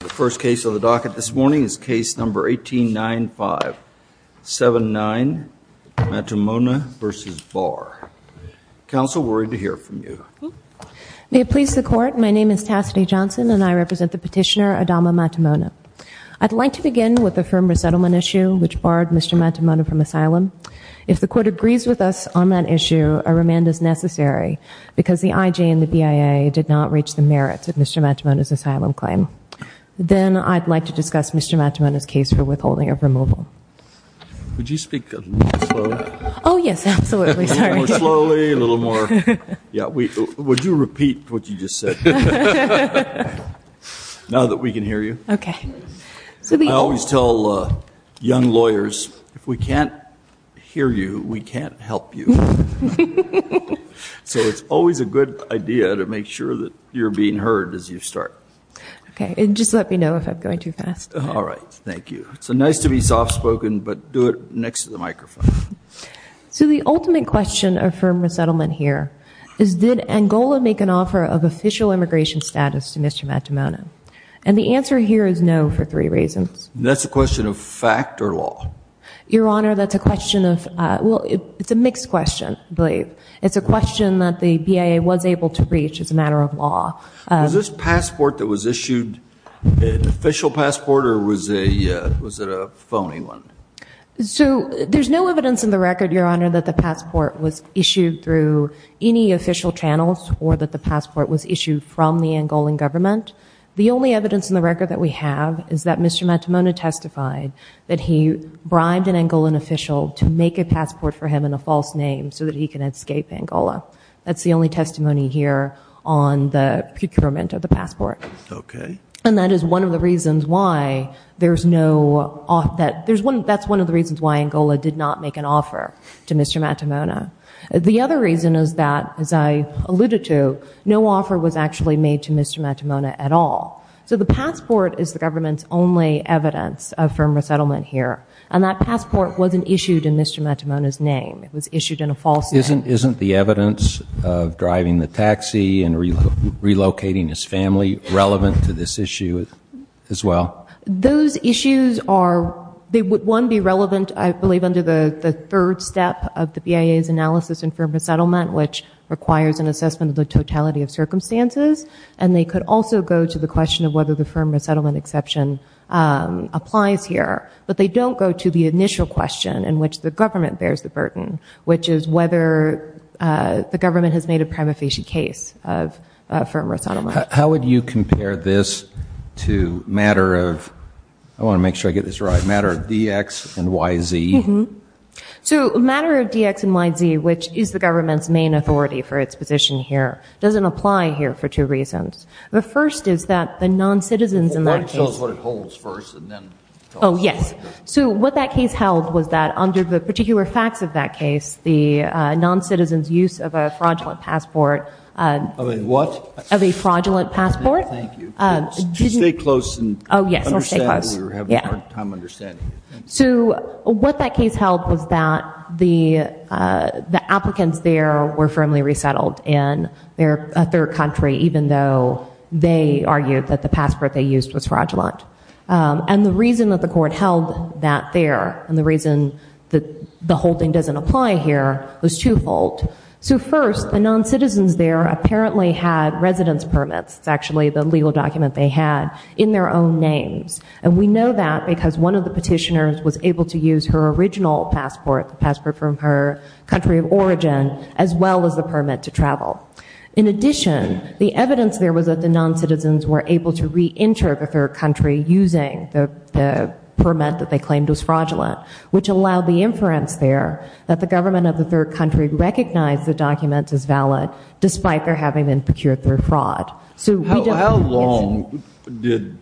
The first case on the docket this morning is case number 1895-79, Matumona v. Barr. Counsel, we're ready to hear from you. May it please the Court, my name is Tassidy Johnson and I represent the petitioner, Adama Matumona. I'd like to begin with the firm resettlement issue which barred Mr. Matumona from asylum. If the Court agrees with us on that issue, a remand is necessary because the IJ and the BIA did not reach the merits of Mr. Matumona's asylum claim. Then I'd like to discuss Mr. Matumona's case for withholding of removal. Would you speak a little slower? Oh yes, absolutely, sorry. A little more slowly, a little more... Yeah, would you repeat what you just said? Now that we can hear you. Okay. I always tell young lawyers, if we can't hear you, we can't help you. So it's always a good idea to make sure that you're being heard as you start. Okay, and just let me know if I'm going too fast. All right, thank you. It's nice to be soft spoken, but do it next to the microphone. So the ultimate question of firm resettlement here is, did Angola make an offer of official immigration status to Mr. Matumona? And the answer here is no for three reasons. That's a question of fact or law? Your Honor, that's a question of, well, it's a mixed question, I believe. It's a question that the BIA was able to reach as a matter of law. Was this passport that was issued an official passport or was it a phony one? So there's no evidence in the record, Your Honor, that the passport was issued through any official channels or that the passport was issued from the Angolan government. The only evidence in the record that we have is that Mr. Matumona testified that he bribed an Angolan official to make a passport for him in a false name so that he can escape Angola. That's the only testimony here on the procurement of the passport. Okay. And that's one of the reasons why Angola did not make an offer to Mr. Matumona. The other reason is that, as I alluded to, no offer was actually made to Mr. Matumona at all. So the passport is the government's only evidence of firm resettlement here, and that passport wasn't issued in Mr. Matumona's name. It was issued in a false name. Isn't the evidence of driving the taxi and relocating his family relevant to this issue as well? Those issues are, they would, one, be relevant, I believe, under the third step of the BIA's analysis in firm resettlement, which requires an assessment of the totality of circumstances, and they could also go to the question of whether the firm resettlement exception applies here. But they don't go to the initial question in which the government bears the burden, which is whether the government has made a prima facie case of firm resettlement. How would you compare this to a matter of, I want to make sure I get this right, a matter of DX and YZ? So a matter of DX and YZ, which is the government's main authority for its position here, doesn't apply here for two reasons. The first is that the non-citizens in that case Well, why don't you tell us what it holds first and then talk about it. Oh, yes. So what that case held was that under the particular facts of that case, the non-citizens' use of a fraudulent passport Of a what? Of a fraudulent passport. Thank you. Just stay close and understand. Oh, yes, stay close. We're having a hard time understanding it. So what that case held was that the applicants there were firmly resettled in a third country even though they argued that the passport they used was fraudulent. And the reason that the court held that there and the reason that the holding doesn't apply here was twofold. So first, the non-citizens there apparently had residence permits, it's actually the legal document they had, in their own names. And we know that because one of the petitioners was able to use her original passport, the passport from her country of origin, as well as the permit to travel. In addition, the evidence there was that the non-citizens were able to re-enter the third country using the permit that they claimed was fraudulent, which allowed the inference there that the government of the third country recognized the document as valid despite their having been procured through fraud. How long did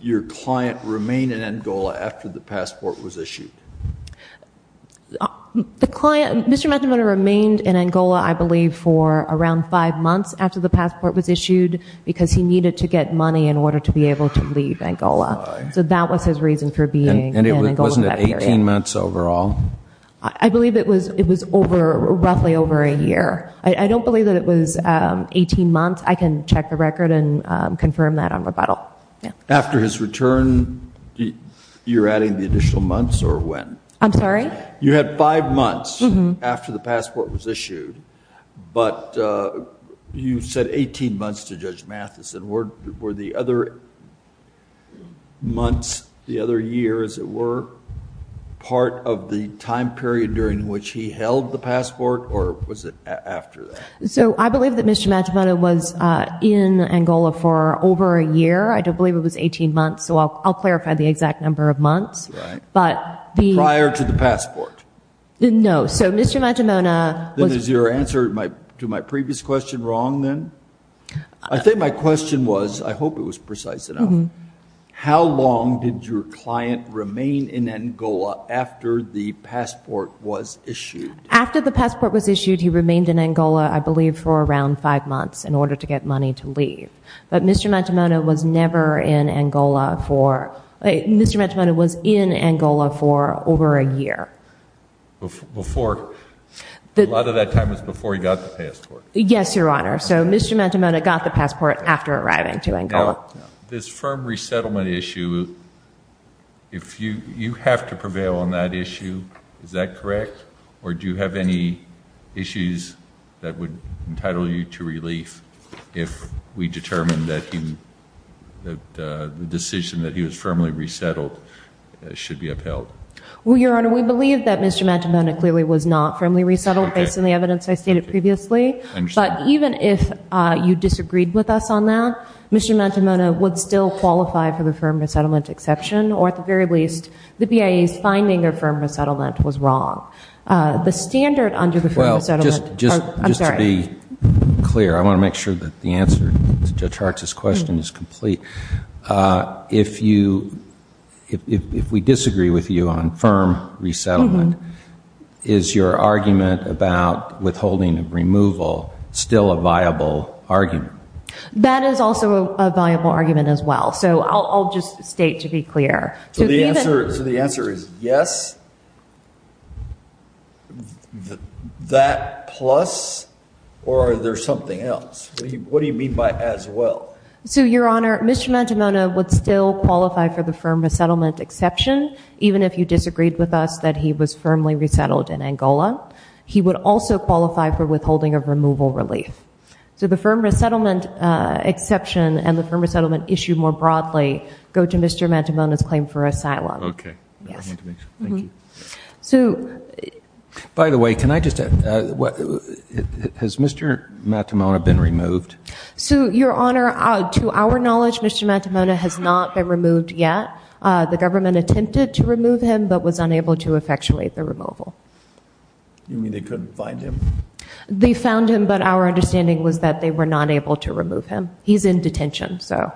your client remain in Angola after the passport was issued? The client, Mr. McNamara remained in Angola, I believe, for around five months after the passport was issued because he needed to get money in order to be able to leave Angola. So that was his reason for being in Angola for that period. And it wasn't 18 months overall? I believe it was roughly over a year. I don't believe that it was 18 months. I can check the record and confirm that on rebuttal. After his return, you're adding the additional months or when? I'm sorry? You had five months after the passport was issued, but you said 18 months to Judge Matheson. Were the other months, the other years, were part of the time period during which he held the passport or was it after that? So I believe that Mr. McNamara was in Angola for over a year. I don't believe it was 18 months, so I'll clarify the exact number of months. Prior to the passport? No, so Mr. McNamara was... Then is your answer to my previous question wrong then? I think my question was, I hope it was precise enough, how long did your client remain in Angola after the passport was issued? After the passport was issued, he remained in Angola, I believe, for around five months in order to get money to leave. But Mr. McNamara was never in Angola for, Mr. McNamara was in Angola for over a year. Before, a lot of that time was before he got the passport. Yes, Your Honor. So Mr. McNamara got the passport after arriving to Angola. Now, this firm resettlement issue, you have to prevail on that issue. Is that correct? Or do you have any issues that would entitle you to relief if we determine that the decision that he was firmly resettled should be upheld? Well, Your Honor, we believe that Mr. McNamara clearly was not firmly resettled, based on the evidence I stated previously. But even if you disagreed with us on that, Mr. McNamara would still qualify for the firm resettlement exception, or at the very least, the BIA's finding of firm resettlement was wrong. The standard under the firm resettlement... Well, just to be clear, I want to make sure that the answer to Judge Hart's question is complete. If we disagree with you on firm resettlement, is your argument about withholding of removal still a viable argument? That is also a viable argument as well. So I'll just state to be clear. So the answer is yes, that plus, or is there something else? What do you mean by as well? So, Your Honor, Mr. McNamara would still qualify for the firm resettlement exception, even if you disagreed with us that he was firmly resettled in Angola. He would also qualify for withholding of removal relief. So the firm resettlement exception and the firm resettlement issue more broadly go to Mr. Matamona's claim for asylum. Okay. Yes. Thank you. So... By the way, can I just ask, has Mr. Matamona been removed? So, Your Honor, to our knowledge, Mr. Matamona has not been removed yet. The government attempted to remove him, but was unable to effectuate the removal. You mean they couldn't find him? They found him, but our understanding was that they were not able to remove him. He's in detention, so...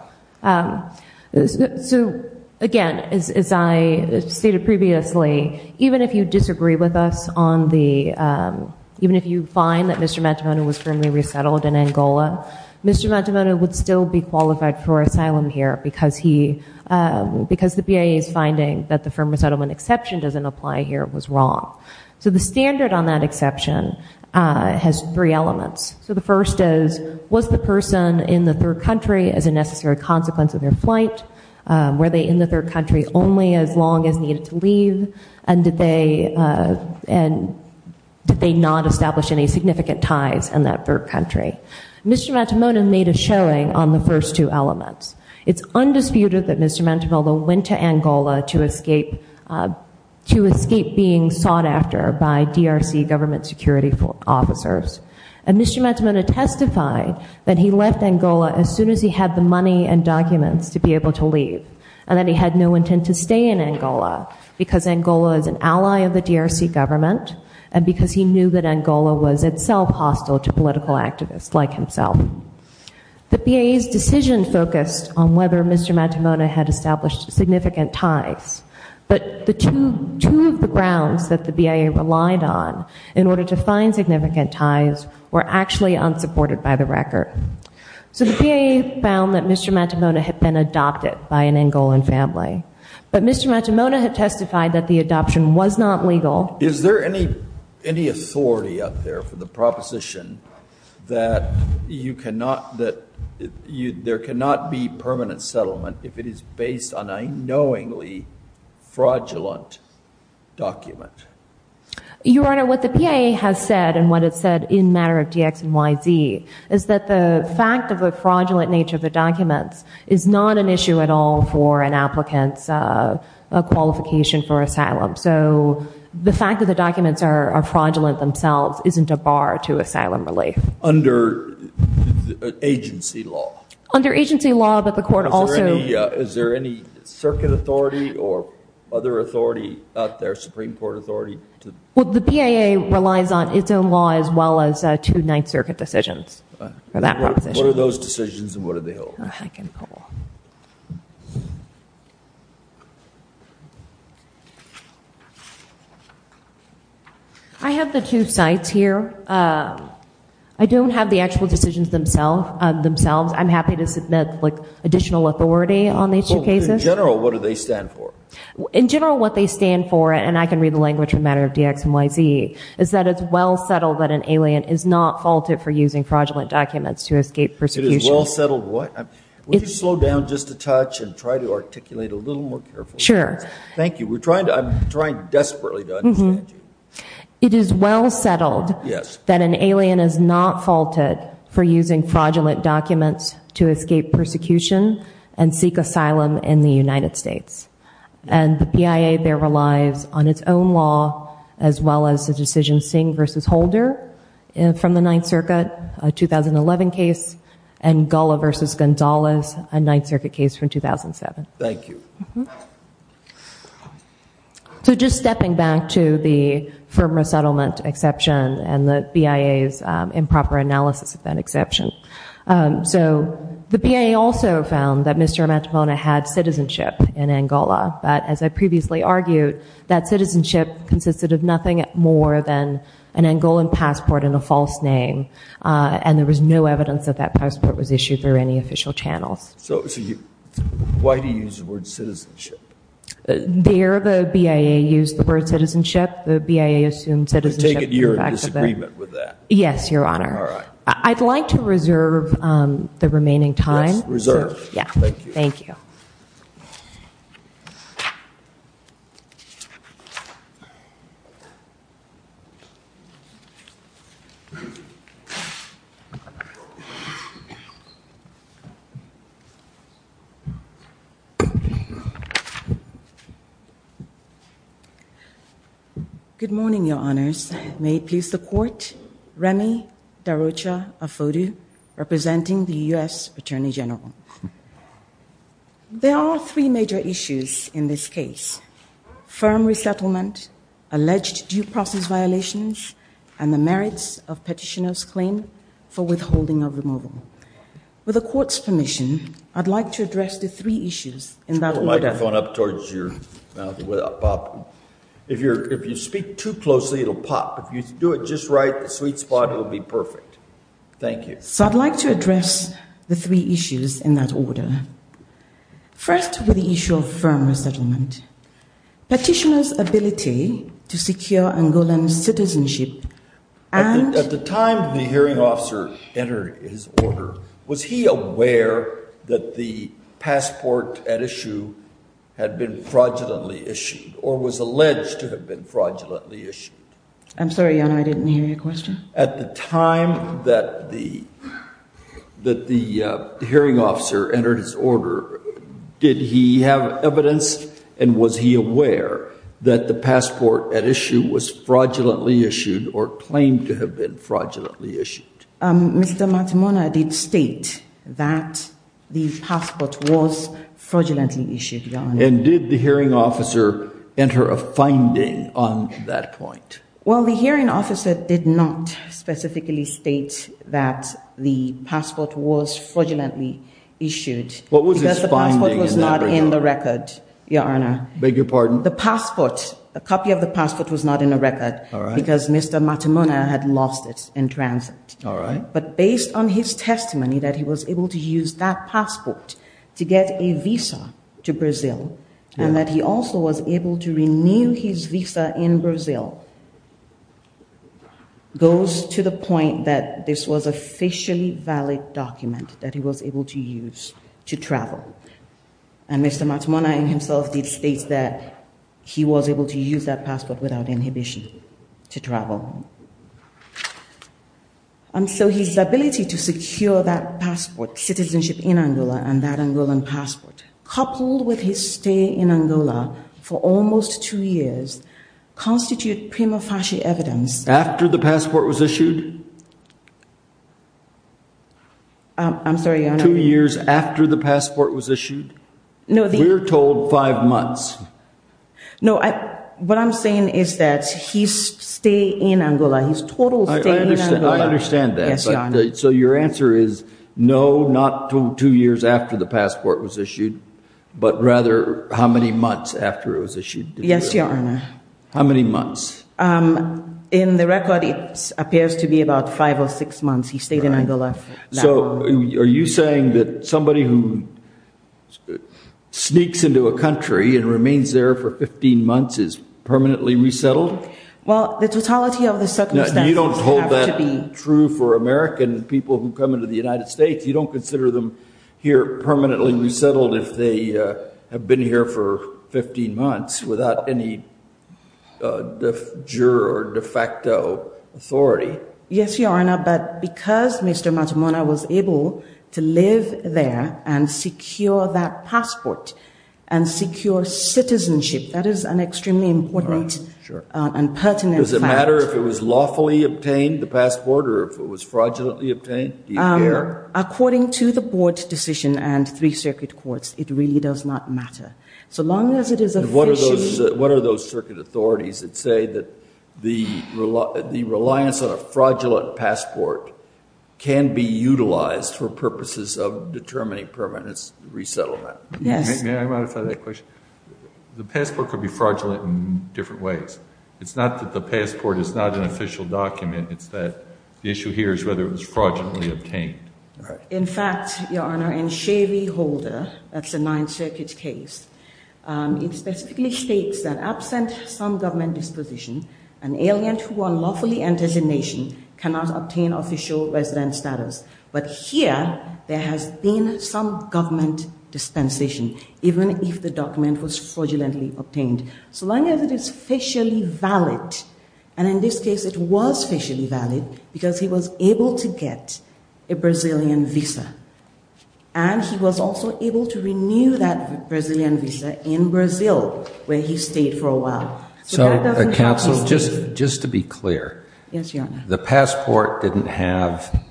So, again, as I stated previously, even if you disagree with us on the... even if you find that Mr. Matamona was firmly resettled in Angola, Mr. Matamona would still be qualified for asylum here, because the BIA's finding that the firm resettlement exception doesn't apply here was wrong. So the standard on that exception has three elements. So the first is, was the person in the third country as a necessary consequence of their flight? Were they in the third country only as long as needed to leave? And did they not establish any significant ties in that third country? Mr. Matamona made a showing on the first two elements. It's undisputed that Mr. Matamona went to Angola to escape being sought after by DRC government security officers. And Mr. Matamona testified that he left Angola as soon as he had the money and documents to be able to leave, and that he had no intent to stay in Angola, because Angola is an ally of the DRC government, and because he knew that Angola was itself hostile to political activists like himself. The BIA's decision focused on whether Mr. Matamona had established significant ties. But two of the grounds that the BIA relied on in order to find significant ties were actually unsupported by the record. So the BIA found that Mr. Matamona had been adopted by an Angolan family. But Mr. Matamona had testified that the adoption was not legal. Is there any authority out there for the proposition that there cannot be permanent settlement if it is based on a knowingly fraudulent document? Your Honor, what the PIA has said, and what it said in matter of DX and YZ, is that the fact of the fraudulent nature of the documents is not an issue at all for an applicant's qualification for asylum. So the fact that the documents are fraudulent themselves isn't a bar to asylum relief. Under agency law? Under agency law, but the court also- Is there any circuit authority or other authority out there, Supreme Court authority? Well, the PIA relies on its own law as well as two Ninth Circuit decisions for that proposition. What are those decisions, and what do they hold? I can pull. I have the two sites here. I don't have the actual decisions themselves. I'm happy to submit additional authority on these two cases. In general, what do they stand for? In general, what they stand for, and I can read the language from matter of DX and YZ, is that it's well settled that an alien is not faulted for using fraudulent documents to escape persecution. It is well settled what? Would you slow down just a touch and try to articulate a little more carefully? Sure. Thank you. I'm trying desperately to understand you. It is well settled that an alien is not faulted for using fraudulent documents to escape persecution and seek asylum in the United States. And the PIA there relies on its own law as well as the decision Singh v. Holder from the Ninth Circuit, a 2011 case, Angola v. Gonzalez, a Ninth Circuit case from 2007. Thank you. So just stepping back to the firm resettlement exception and the PIA's improper analysis of that exception. So the PIA also found that Mr. Amantapona had citizenship in Angola, but as I previously argued, that citizenship consisted of nothing more than an Angolan passport and a false name, and there was no evidence that that passport was issued through any official channels. So why do you use the word citizenship? There the PIA used the word citizenship. The PIA assumed citizenship. You've taken your disagreement with that. Yes, Your Honor. All right. I'd like to reserve the remaining time. Yes, reserve. Thank you. Thank you. Good morning, Your Honors. May it please the Court, Remy Darocha Afodu, representing the U.S. Attorney General. There are three major issues in this case, firm resettlement, alleged due process violations, and the merits of Petitioner's claim for withholding of removal. With the Court's permission, I'd like to address the three issues in that order. If you speak too closely, it'll pop. If you do it just right, the sweet spot, it'll be perfect. Thank you. So I'd like to address the three issues in that order. First, with the issue of firm resettlement. Petitioner's ability to secure Angolan citizenship and— had been fraudulently issued or was alleged to have been fraudulently issued. I'm sorry, Your Honor. I didn't hear your question. At the time that the hearing officer entered his order, did he have evidence and was he aware that the passport at issue was fraudulently issued or claimed to have been fraudulently issued? Mr. Matamona did state that the passport was fraudulently issued, Your Honor. And did the hearing officer enter a finding on that point? Well, the hearing officer did not specifically state that the passport was fraudulently issued. What was his finding? Because the passport was not in the record, Your Honor. Beg your pardon? The passport, a copy of the passport was not in the record because Mr. Matamona had lost it in transit. All right. But based on his testimony that he was able to use that passport to get a visa to Brazil and that he also was able to renew his visa in Brazil, goes to the point that this was officially valid document that he was able to use to travel. And Mr. Matamona himself did state that he was able to use that passport without inhibition to travel. And so his ability to secure that passport, citizenship in Angola and that Angolan passport, coupled with his stay in Angola for almost two years, constitute prima facie evidence. After the passport was issued? I'm sorry, Your Honor. Not two years after the passport was issued? No. We're told five months. No. What I'm saying is that he stayed in Angola. His total stay in Angola. I understand that. Yes, Your Honor. So your answer is no, not two years after the passport was issued, but rather how many months after it was issued? Yes, Your Honor. How many months? In the record, it appears to be about five or six months he stayed in Angola. So are you saying that somebody who sneaks into a country and remains there for 15 months is permanently resettled? Well, the totality of the circumstances have to be. You don't hold that true for American people who come into the United States? You don't consider them here permanently resettled if they have been here for 15 months without any juror or de facto authority? Yes, Your Honor, but because Mr. Matamona was able to live there and secure that passport and secure citizenship, that is an extremely important and pertinent fact. Does it matter if it was lawfully obtained, the passport, or if it was fraudulently obtained? According to the board's decision and three circuit courts, it really does not matter. So long as it is officially. And what are those circuit authorities that say that the reliance on a fraudulent passport can be utilized for purposes of determining permanent resettlement? Yes. May I modify that question? The passport could be fraudulent in different ways. It's not that the passport is not an official document. It's that the issue here is whether it was fraudulently obtained. In fact, Your Honor, in Shavey Holder, that's a Ninth Circuit case, it specifically states that absent some government disposition, an alien who unlawfully enters a nation cannot obtain official resident status. But here there has been some government dispensation, even if the document was fraudulently obtained. So long as it is officially valid, and in this case it was officially valid because he was able to get a Brazilian visa, and he was also able to renew that Brazilian visa in Brazil where he stayed for a while. So the counsel, just to be clear, the passport didn't have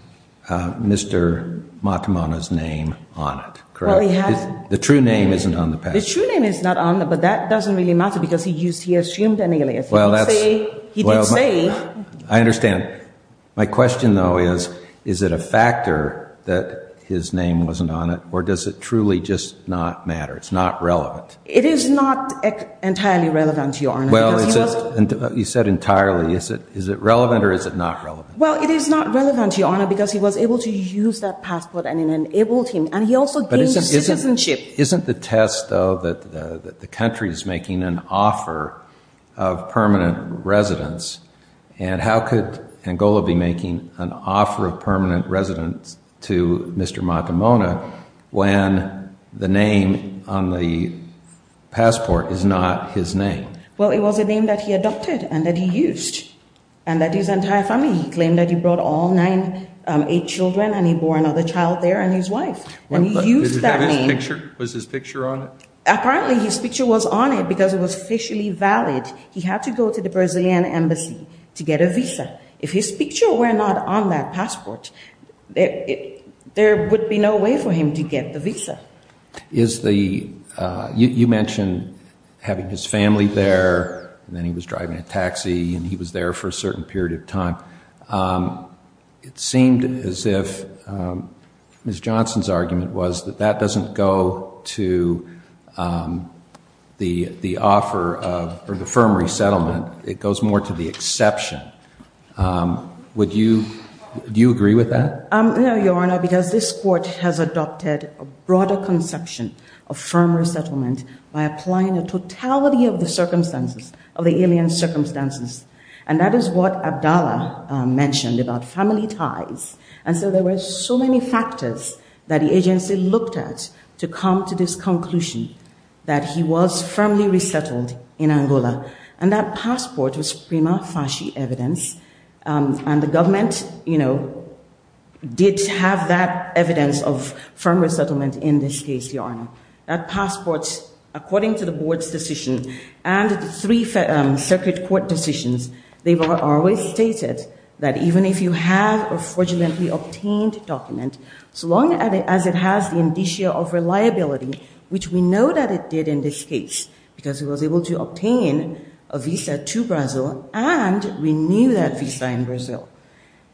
Mr. Matamana's name on it, correct? The true name isn't on the passport. The true name is not on it, but that doesn't really matter because he assumed an alias. He did say... I understand. My question, though, is, is it a factor that his name wasn't on it, or does it truly just not matter? It's not relevant. It is not entirely relevant, Your Honor. Well, you said entirely. Is it relevant or is it not relevant? Well, it is not relevant, Your Honor, because he was able to use that passport, and it enabled him, and he also gained citizenship. Isn't the test, though, that the country is making an offer of permanent residence, and how could Angola be making an offer of permanent residence to Mr. Matamana when the name on the passport is not his name? Well, it was a name that he adopted and that he used, and that his entire family. He claimed that he brought all nine, eight children, and he bore another child there, and his wife. And he used that name. Was his picture on it? Apparently his picture was on it because it was officially valid. He had to go to the Brazilian embassy to get a visa. If his picture were not on that passport, there would be no way for him to get the visa. You mentioned having his family there, and then he was driving a taxi, and he was there for a certain period of time. It seemed as if Ms. Johnson's argument was that that doesn't go to the offer or the firm resettlement. It goes more to the exception. Would you agree with that? No, Your Honor, because this court has adopted a broader conception of firm resettlement by applying the totality of the circumstances, of the alien circumstances, and that is what Abdallah mentioned about family ties. And so there were so many factors that the agency looked at to come to this conclusion that he was firmly resettled in Angola. And that passport was prima facie evidence, and the government, you know, did have that evidence of firm resettlement in this case, Your Honor. That passport, according to the board's decision and the three circuit court decisions, they were always stated that even if you have a fraudulently obtained document, so long as it has the indicia of reliability, which we know that it did in this case, because he was able to obtain a visa to Brazil and renew that visa in Brazil,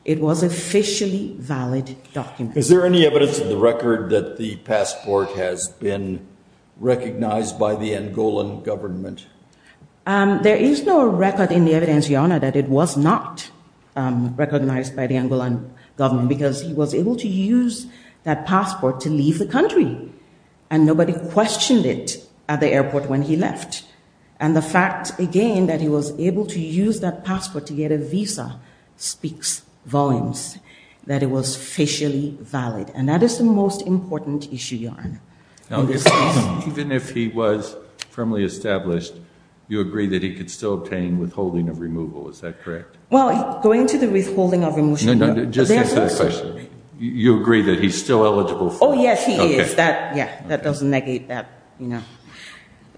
it was officially valid document. Is there any evidence in the record that the passport has been recognized by the Angolan government? There is no record in the evidence, Your Honor, that it was not recognized by the Angolan government because he was able to use that passport to leave the country, and nobody questioned it at the airport when he left. And the fact, again, that he was able to use that passport to get a visa speaks volumes, that it was officially valid. And that is the most important issue, Your Honor. Now, even if he was firmly established, you agree that he could still obtain withholding of removal. Is that correct? Well, going to the withholding of removal, no. No, no, just answer the question. You agree that he's still eligible for it? Oh, yes, he is. That, yeah, that does negate that, you know.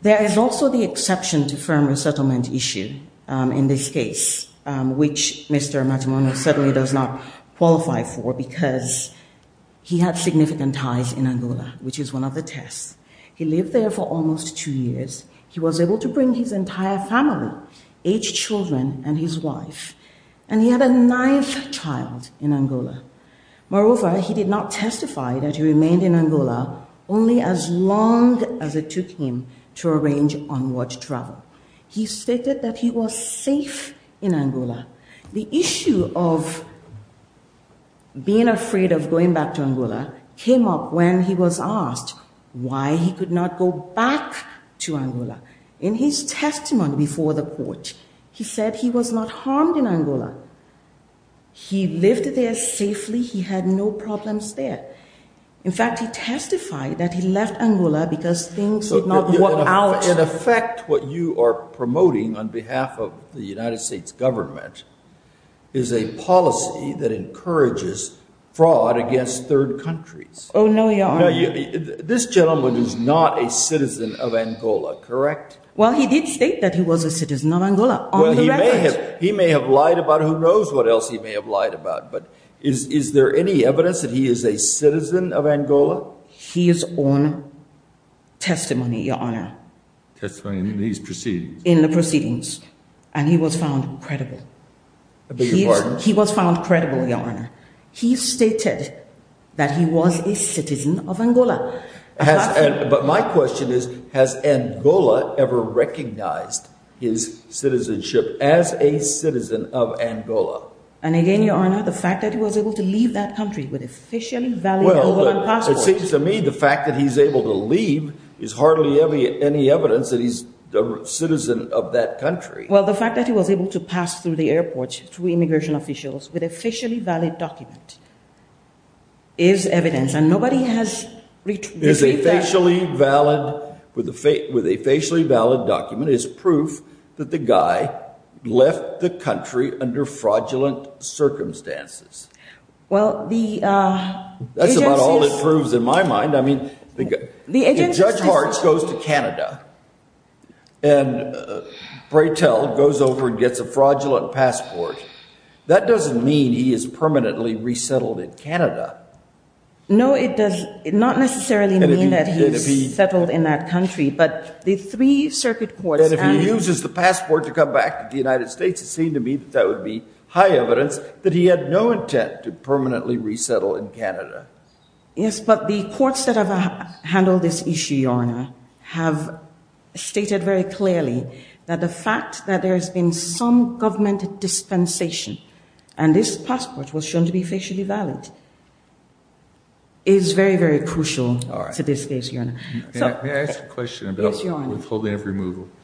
There is also the exception to firm resettlement issue in this case, which Mr. Matsumoto certainly does not qualify for because he had significant ties in Angola, which is one of the tests. He lived there for almost two years. He was able to bring his entire family, eight children and his wife, and he had a ninth child in Angola. Moreover, he did not testify that he remained in Angola only as long as it took him to arrange onward travel. He stated that he was safe in Angola. The issue of being afraid of going back to Angola came up when he was asked why he could not go back to Angola. In his testimony before the court, he said he was not harmed in Angola. He lived there safely. He had no problems there. In fact, he testified that he left Angola because things did not work out. In effect, what you are promoting on behalf of the United States government is a policy that encourages fraud against third countries. Oh, no, Your Honor. Now, this gentleman is not a citizen of Angola, correct? Well, he did state that he was a citizen of Angola on the record. Well, he may have lied about it. Who knows what else he may have lied about? But is there any evidence that he is a citizen of Angola? His own testimony, Your Honor. Testimony in these proceedings. In the proceedings. And he was found credible. I beg your pardon? He was found credible, Your Honor. He stated that he was a citizen of Angola. But my question is, has Angola ever recognized his citizenship as a citizen of Angola? And again, Your Honor, the fact that he was able to leave that country with officially valid Angolan passport. It seems to me the fact that he's able to leave is hardly any evidence that he's a citizen of that country. Well, the fact that he was able to pass through the airport to immigration officials with a facially valid document is evidence. And nobody has retrieved that. With a facially valid document is proof that the guy left the country under fraudulent circumstances. That's about all it proves in my mind. I mean, if Judge Hartz goes to Canada and Breitel goes over and gets a fraudulent passport, that doesn't mean he is permanently resettled in Canada. No, it does not necessarily mean that he's settled in that country. And if he uses the passport to come back to the United States, it seems to me that would be high evidence that he had no intent to permanently resettle in Canada. Yes, but the courts that have handled this issue, Your Honor, have stated very clearly that the fact that there has been some government dispensation, and this passport was shown to be facially valid, is very, very crucial to this case, Your Honor. May I ask a question about withholding of removal? Yes,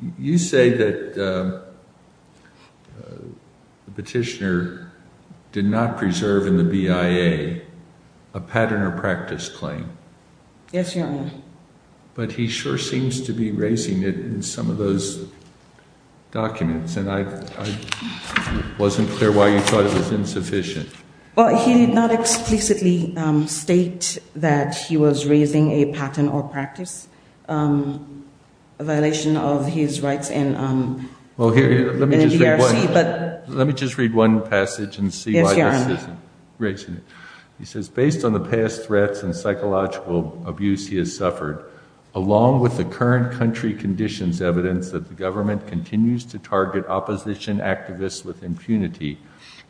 Your Honor. You say that the petitioner did not preserve in the BIA a pattern or practice claim. Yes, Your Honor. But he sure seems to be raising it in some of those documents. And I wasn't clear why you thought it was insufficient. Well, he did not explicitly state that he was raising a pattern or practice, a violation of his rights in the DRC. Let me just read one passage and see why this isn't raising it. He says, based on the past threats and psychological abuse he has suffered, along with the current country conditions evidence that the government continues to target opposition activists with impunity,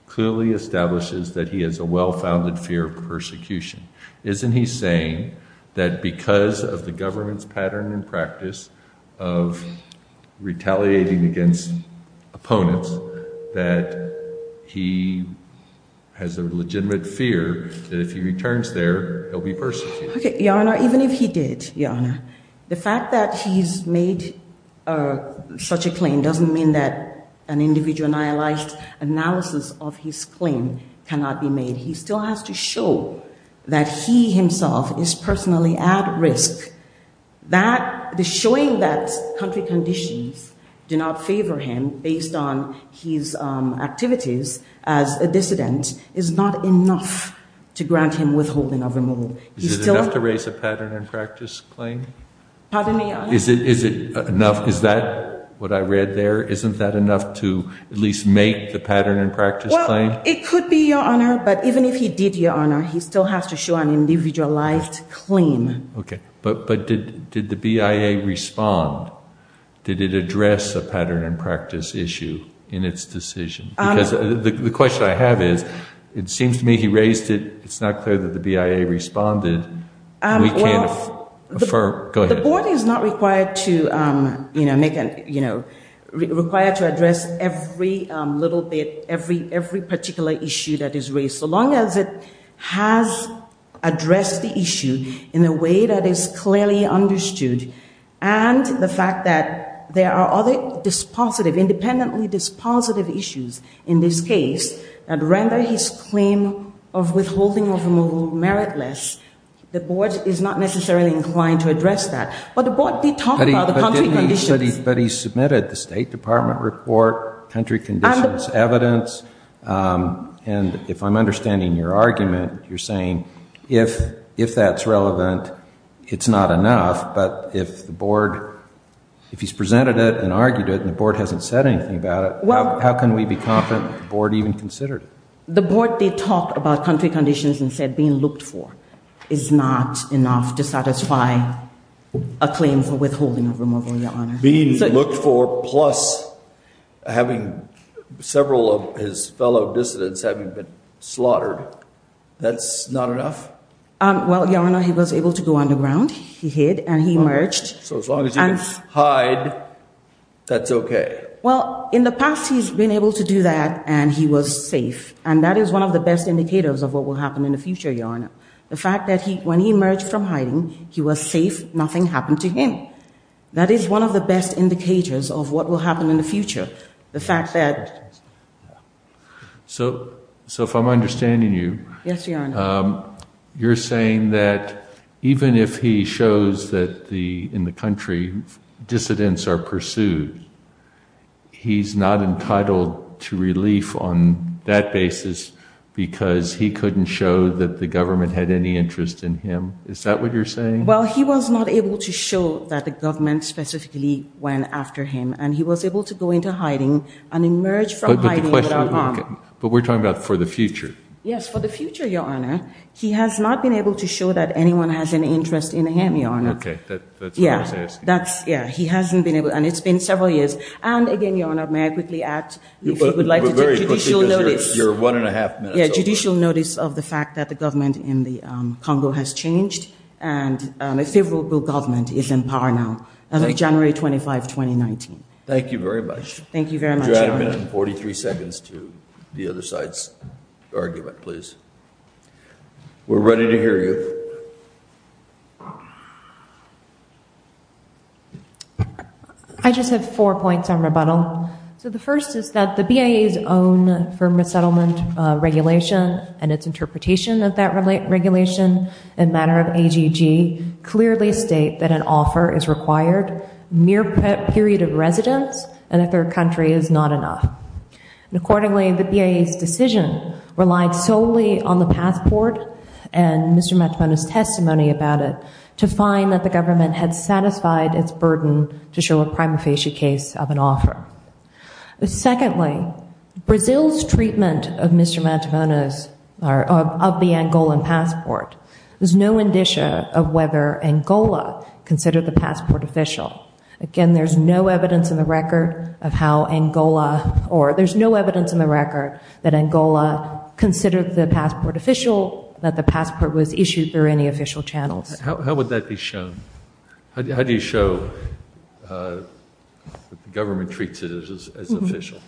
clearly establishes that he has a well-founded fear of persecution. Isn't he saying that because of the government's pattern and practice of retaliating against opponents, that he has a legitimate fear that if he returns there, he'll be persecuted? Okay, Your Honor, even if he did, Your Honor, the fact that he's made such a claim doesn't mean that an individual-analyzed analysis of his claim cannot be made. He still has to show that he himself is personally at risk. The showing that country conditions do not favor him based on his activities as a dissident is not enough to grant him withholding of removal. Is it enough to raise a pattern and practice claim? Pardon me, Your Honor? Is it enough? Is that what I read there? Isn't that enough to at least make the pattern and practice claim? Well, it could be, Your Honor, but even if he did, Your Honor, he still has to show an individualized claim. Okay, but did the BIA respond? Did it address a pattern and practice issue in its decision? Because the question I have is, it seems to me he raised it. It's not clear that the BIA responded. We can't affirm. Go ahead. The board is not required to address every little bit, every particular issue that is raised. So long as it has addressed the issue in a way that is clearly understood and the fact that there are other dispositive, independently dispositive issues in this case that render his claim of withholding of removal meritless, the board is not necessarily inclined to address that. But the board did talk about the country conditions. But he submitted the State Department report, country conditions evidence. And if I'm understanding your argument, you're saying if that's relevant, it's not enough. But if the board, if he's presented it and argued it and the board hasn't said anything about it, how can we be confident the board even considered it? The board did talk about country conditions and said being looked for is not enough to satisfy a claim for withholding of removal, Your Honor. Being looked for plus having several of his fellow dissidents having been slaughtered, that's not enough? Well, Your Honor, he was able to go underground. He hid and he emerged. So as long as he can hide, that's okay. Well, in the past, he's been able to do that and he was safe. And that is one of the best indicators of what will happen in the future, Your Honor. The fact that when he emerged from hiding, he was safe. Nothing happened to him. That is one of the best indicators of what will happen in the future, the fact that. So if I'm understanding you. Yes, Your Honor. You're saying that even if he shows that in the country dissidents are pursued, he's not entitled to relief on that basis because he couldn't show that the government had any interest in him. Is that what you're saying? Well, he was not able to show that the government specifically went after him. And he was able to go into hiding and emerge from hiding without harm. But we're talking about for the future. Yes, for the future, Your Honor. He has not been able to show that anyone has any interest in him, Your Honor. Okay. That's what I was asking. Yeah. He hasn't been able. And it's been several years. And again, Your Honor, may I quickly add, if you would like to take judicial notice. You're one and a half minutes over. Yeah, judicial notice of the fact that the government in the Congo has changed. And a favorable government is in power now, as of January 25, 2019. Thank you very much. Thank you very much, Your Honor. Would you add a minute and 43 seconds to the other side's argument, please? We're ready to hear you. I just have four points on rebuttal. So the first is that the BIA's own firm resettlement regulation and its interpretation of that regulation and matter of AGG clearly state that an offer is required, mere period of residence, and that their country is not enough. And accordingly, the BIA's decision relied solely on the passport and Mr. Matamona's testimony about it to find that the government had satisfied its burden to show a prima facie case of an offer. Secondly, Brazil's treatment of Mr. Matamona's, of the Angolan passport, there's no indicia of whether Angola considered the passport official. Again, there's no evidence in the record of how Angola, or there's no evidence in the record that Angola considered the passport official, that the passport was issued through any official channels. How would that be shown? How do you show that the government treats it as official?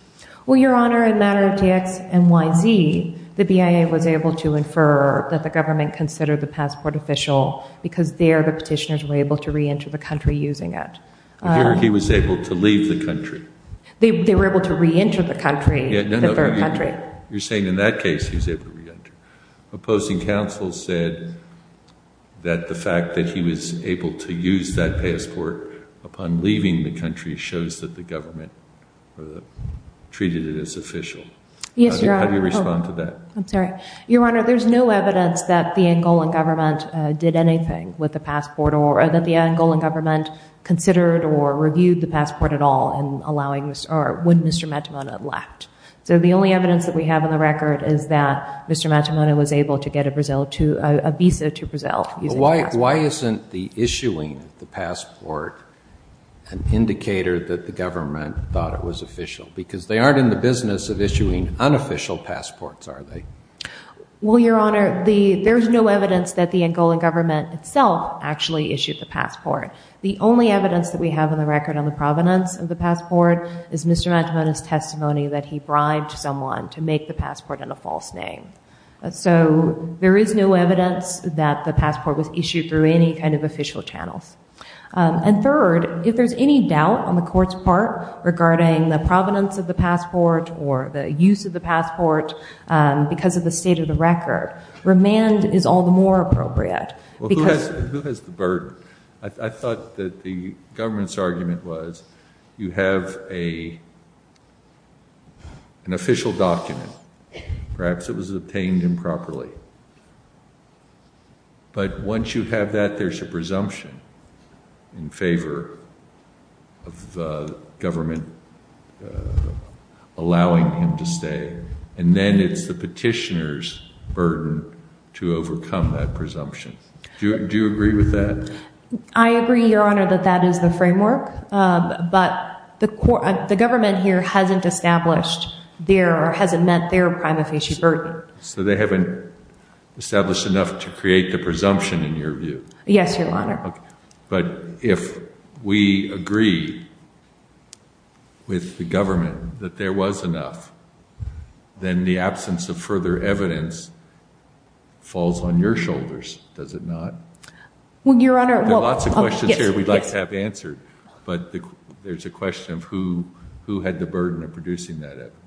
Well, Your Honor, in matter of TXNYZ, the BIA was able to infer that the government considered the passport official because there the petitioners were able to reenter the country using it. Here he was able to leave the country. They were able to reenter the country, the third country. You're saying in that case he was able to reenter. Opposing counsel said that the fact that he was able to use that passport upon leaving the country shows that the government treated it as official. Yes, Your Honor. How do you respond to that? I'm sorry. Your Honor, there's no evidence that the Angolan government did anything with the passport or that the Angolan government considered or reviewed the passport at all in allowing, or when Mr. Matamona left. So the only evidence that we have on the record is that Mr. Matamona was able to get a visa to Brazil using the passport. Why isn't the issuing of the passport an indicator that the government thought it was official? Because they aren't in the business of issuing unofficial passports, are they? Well, Your Honor, there's no evidence that the Angolan government itself actually issued the passport. The only evidence that we have on the record on the provenance of the passport is Mr. Matamona's testimony that he bribed someone to make the passport in a false name. So there is no evidence that the passport was issued through any kind of official channels. Third, if there's any doubt on the Court's part regarding the provenance of the passport or the use of the passport because of the state of the record, remand is all the more appropriate. Who has the burden? I thought that the government's argument was you have an official document. Perhaps it was obtained improperly. But once you have that, there's a presumption in favor of the government allowing him to stay. And then it's the petitioner's burden to overcome that presumption. Do you agree with that? I agree, Your Honor, that that is the framework. But the government here hasn't established their or hasn't met their prima facie burden. So they haven't established enough to create the presumption in your view? Yes, Your Honor. But if we agree with the government that there was enough, then the absence of further evidence falls on your shoulders, does it not? Well, Your Honor. There are lots of questions here we'd like to have answered. But there's a question of who had the burden of producing that evidence.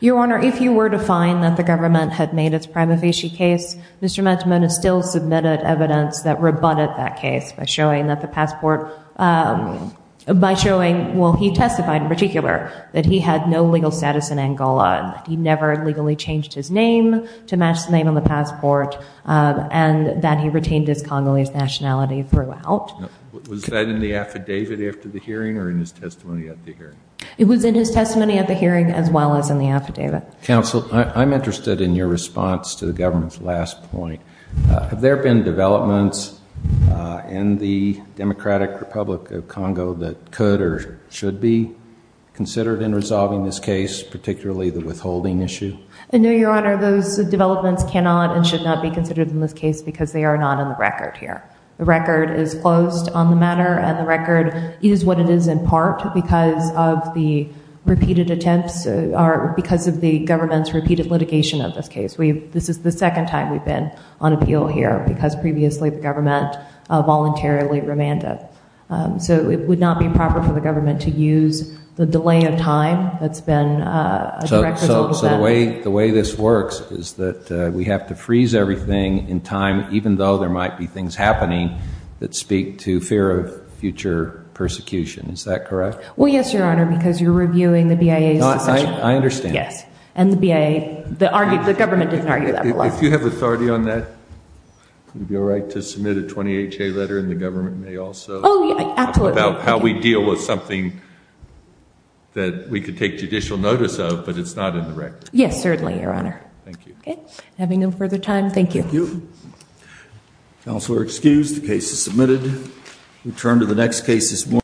Your Honor, if you were to find that the government had made its prima facie case, Mr. Mantamona still submitted evidence that rebutted that case by showing that the passport, by showing, well, he testified in particular that he had no legal status in Angola, that he never legally changed his name to match the name on the passport, and that he retained his Congolese nationality throughout. Was that in the affidavit after the hearing or in his testimony at the hearing? It was in his testimony at the hearing as well as in the affidavit. Counsel, I'm interested in your response to the government's last point. Have there been developments in the Democratic Republic of Congo that could or should be considered in resolving this case, particularly the withholding issue? No, Your Honor. Those developments cannot and should not be considered in this case because they are not on the record here. The record is closed on the matter, and the record is what it is in part because of the repeated attempts or because of the government's repeated litigation of this case. This is the second time we've been on appeal here because previously the government voluntarily remanded. So it would not be proper for the government to use the delay of time that's been a direct result of that. So the way this works is that we have to freeze everything in time, even though there might be things happening that speak to fear of future persecution. Is that correct? Well, yes, Your Honor, because you're reviewing the BIA's decision. I understand. Yes, and the BIA, the government didn't argue that. If you have authority on that, would it be all right to submit a 28-J letter and the government may also? Oh, absolutely. About how we deal with something that we could take judicial notice of, but it's not in the record. Yes, certainly, Your Honor. Thank you. Okay. Having no further time, thank you. Thank you. Counselor excused. The case is submitted. We turn to the next case this morning.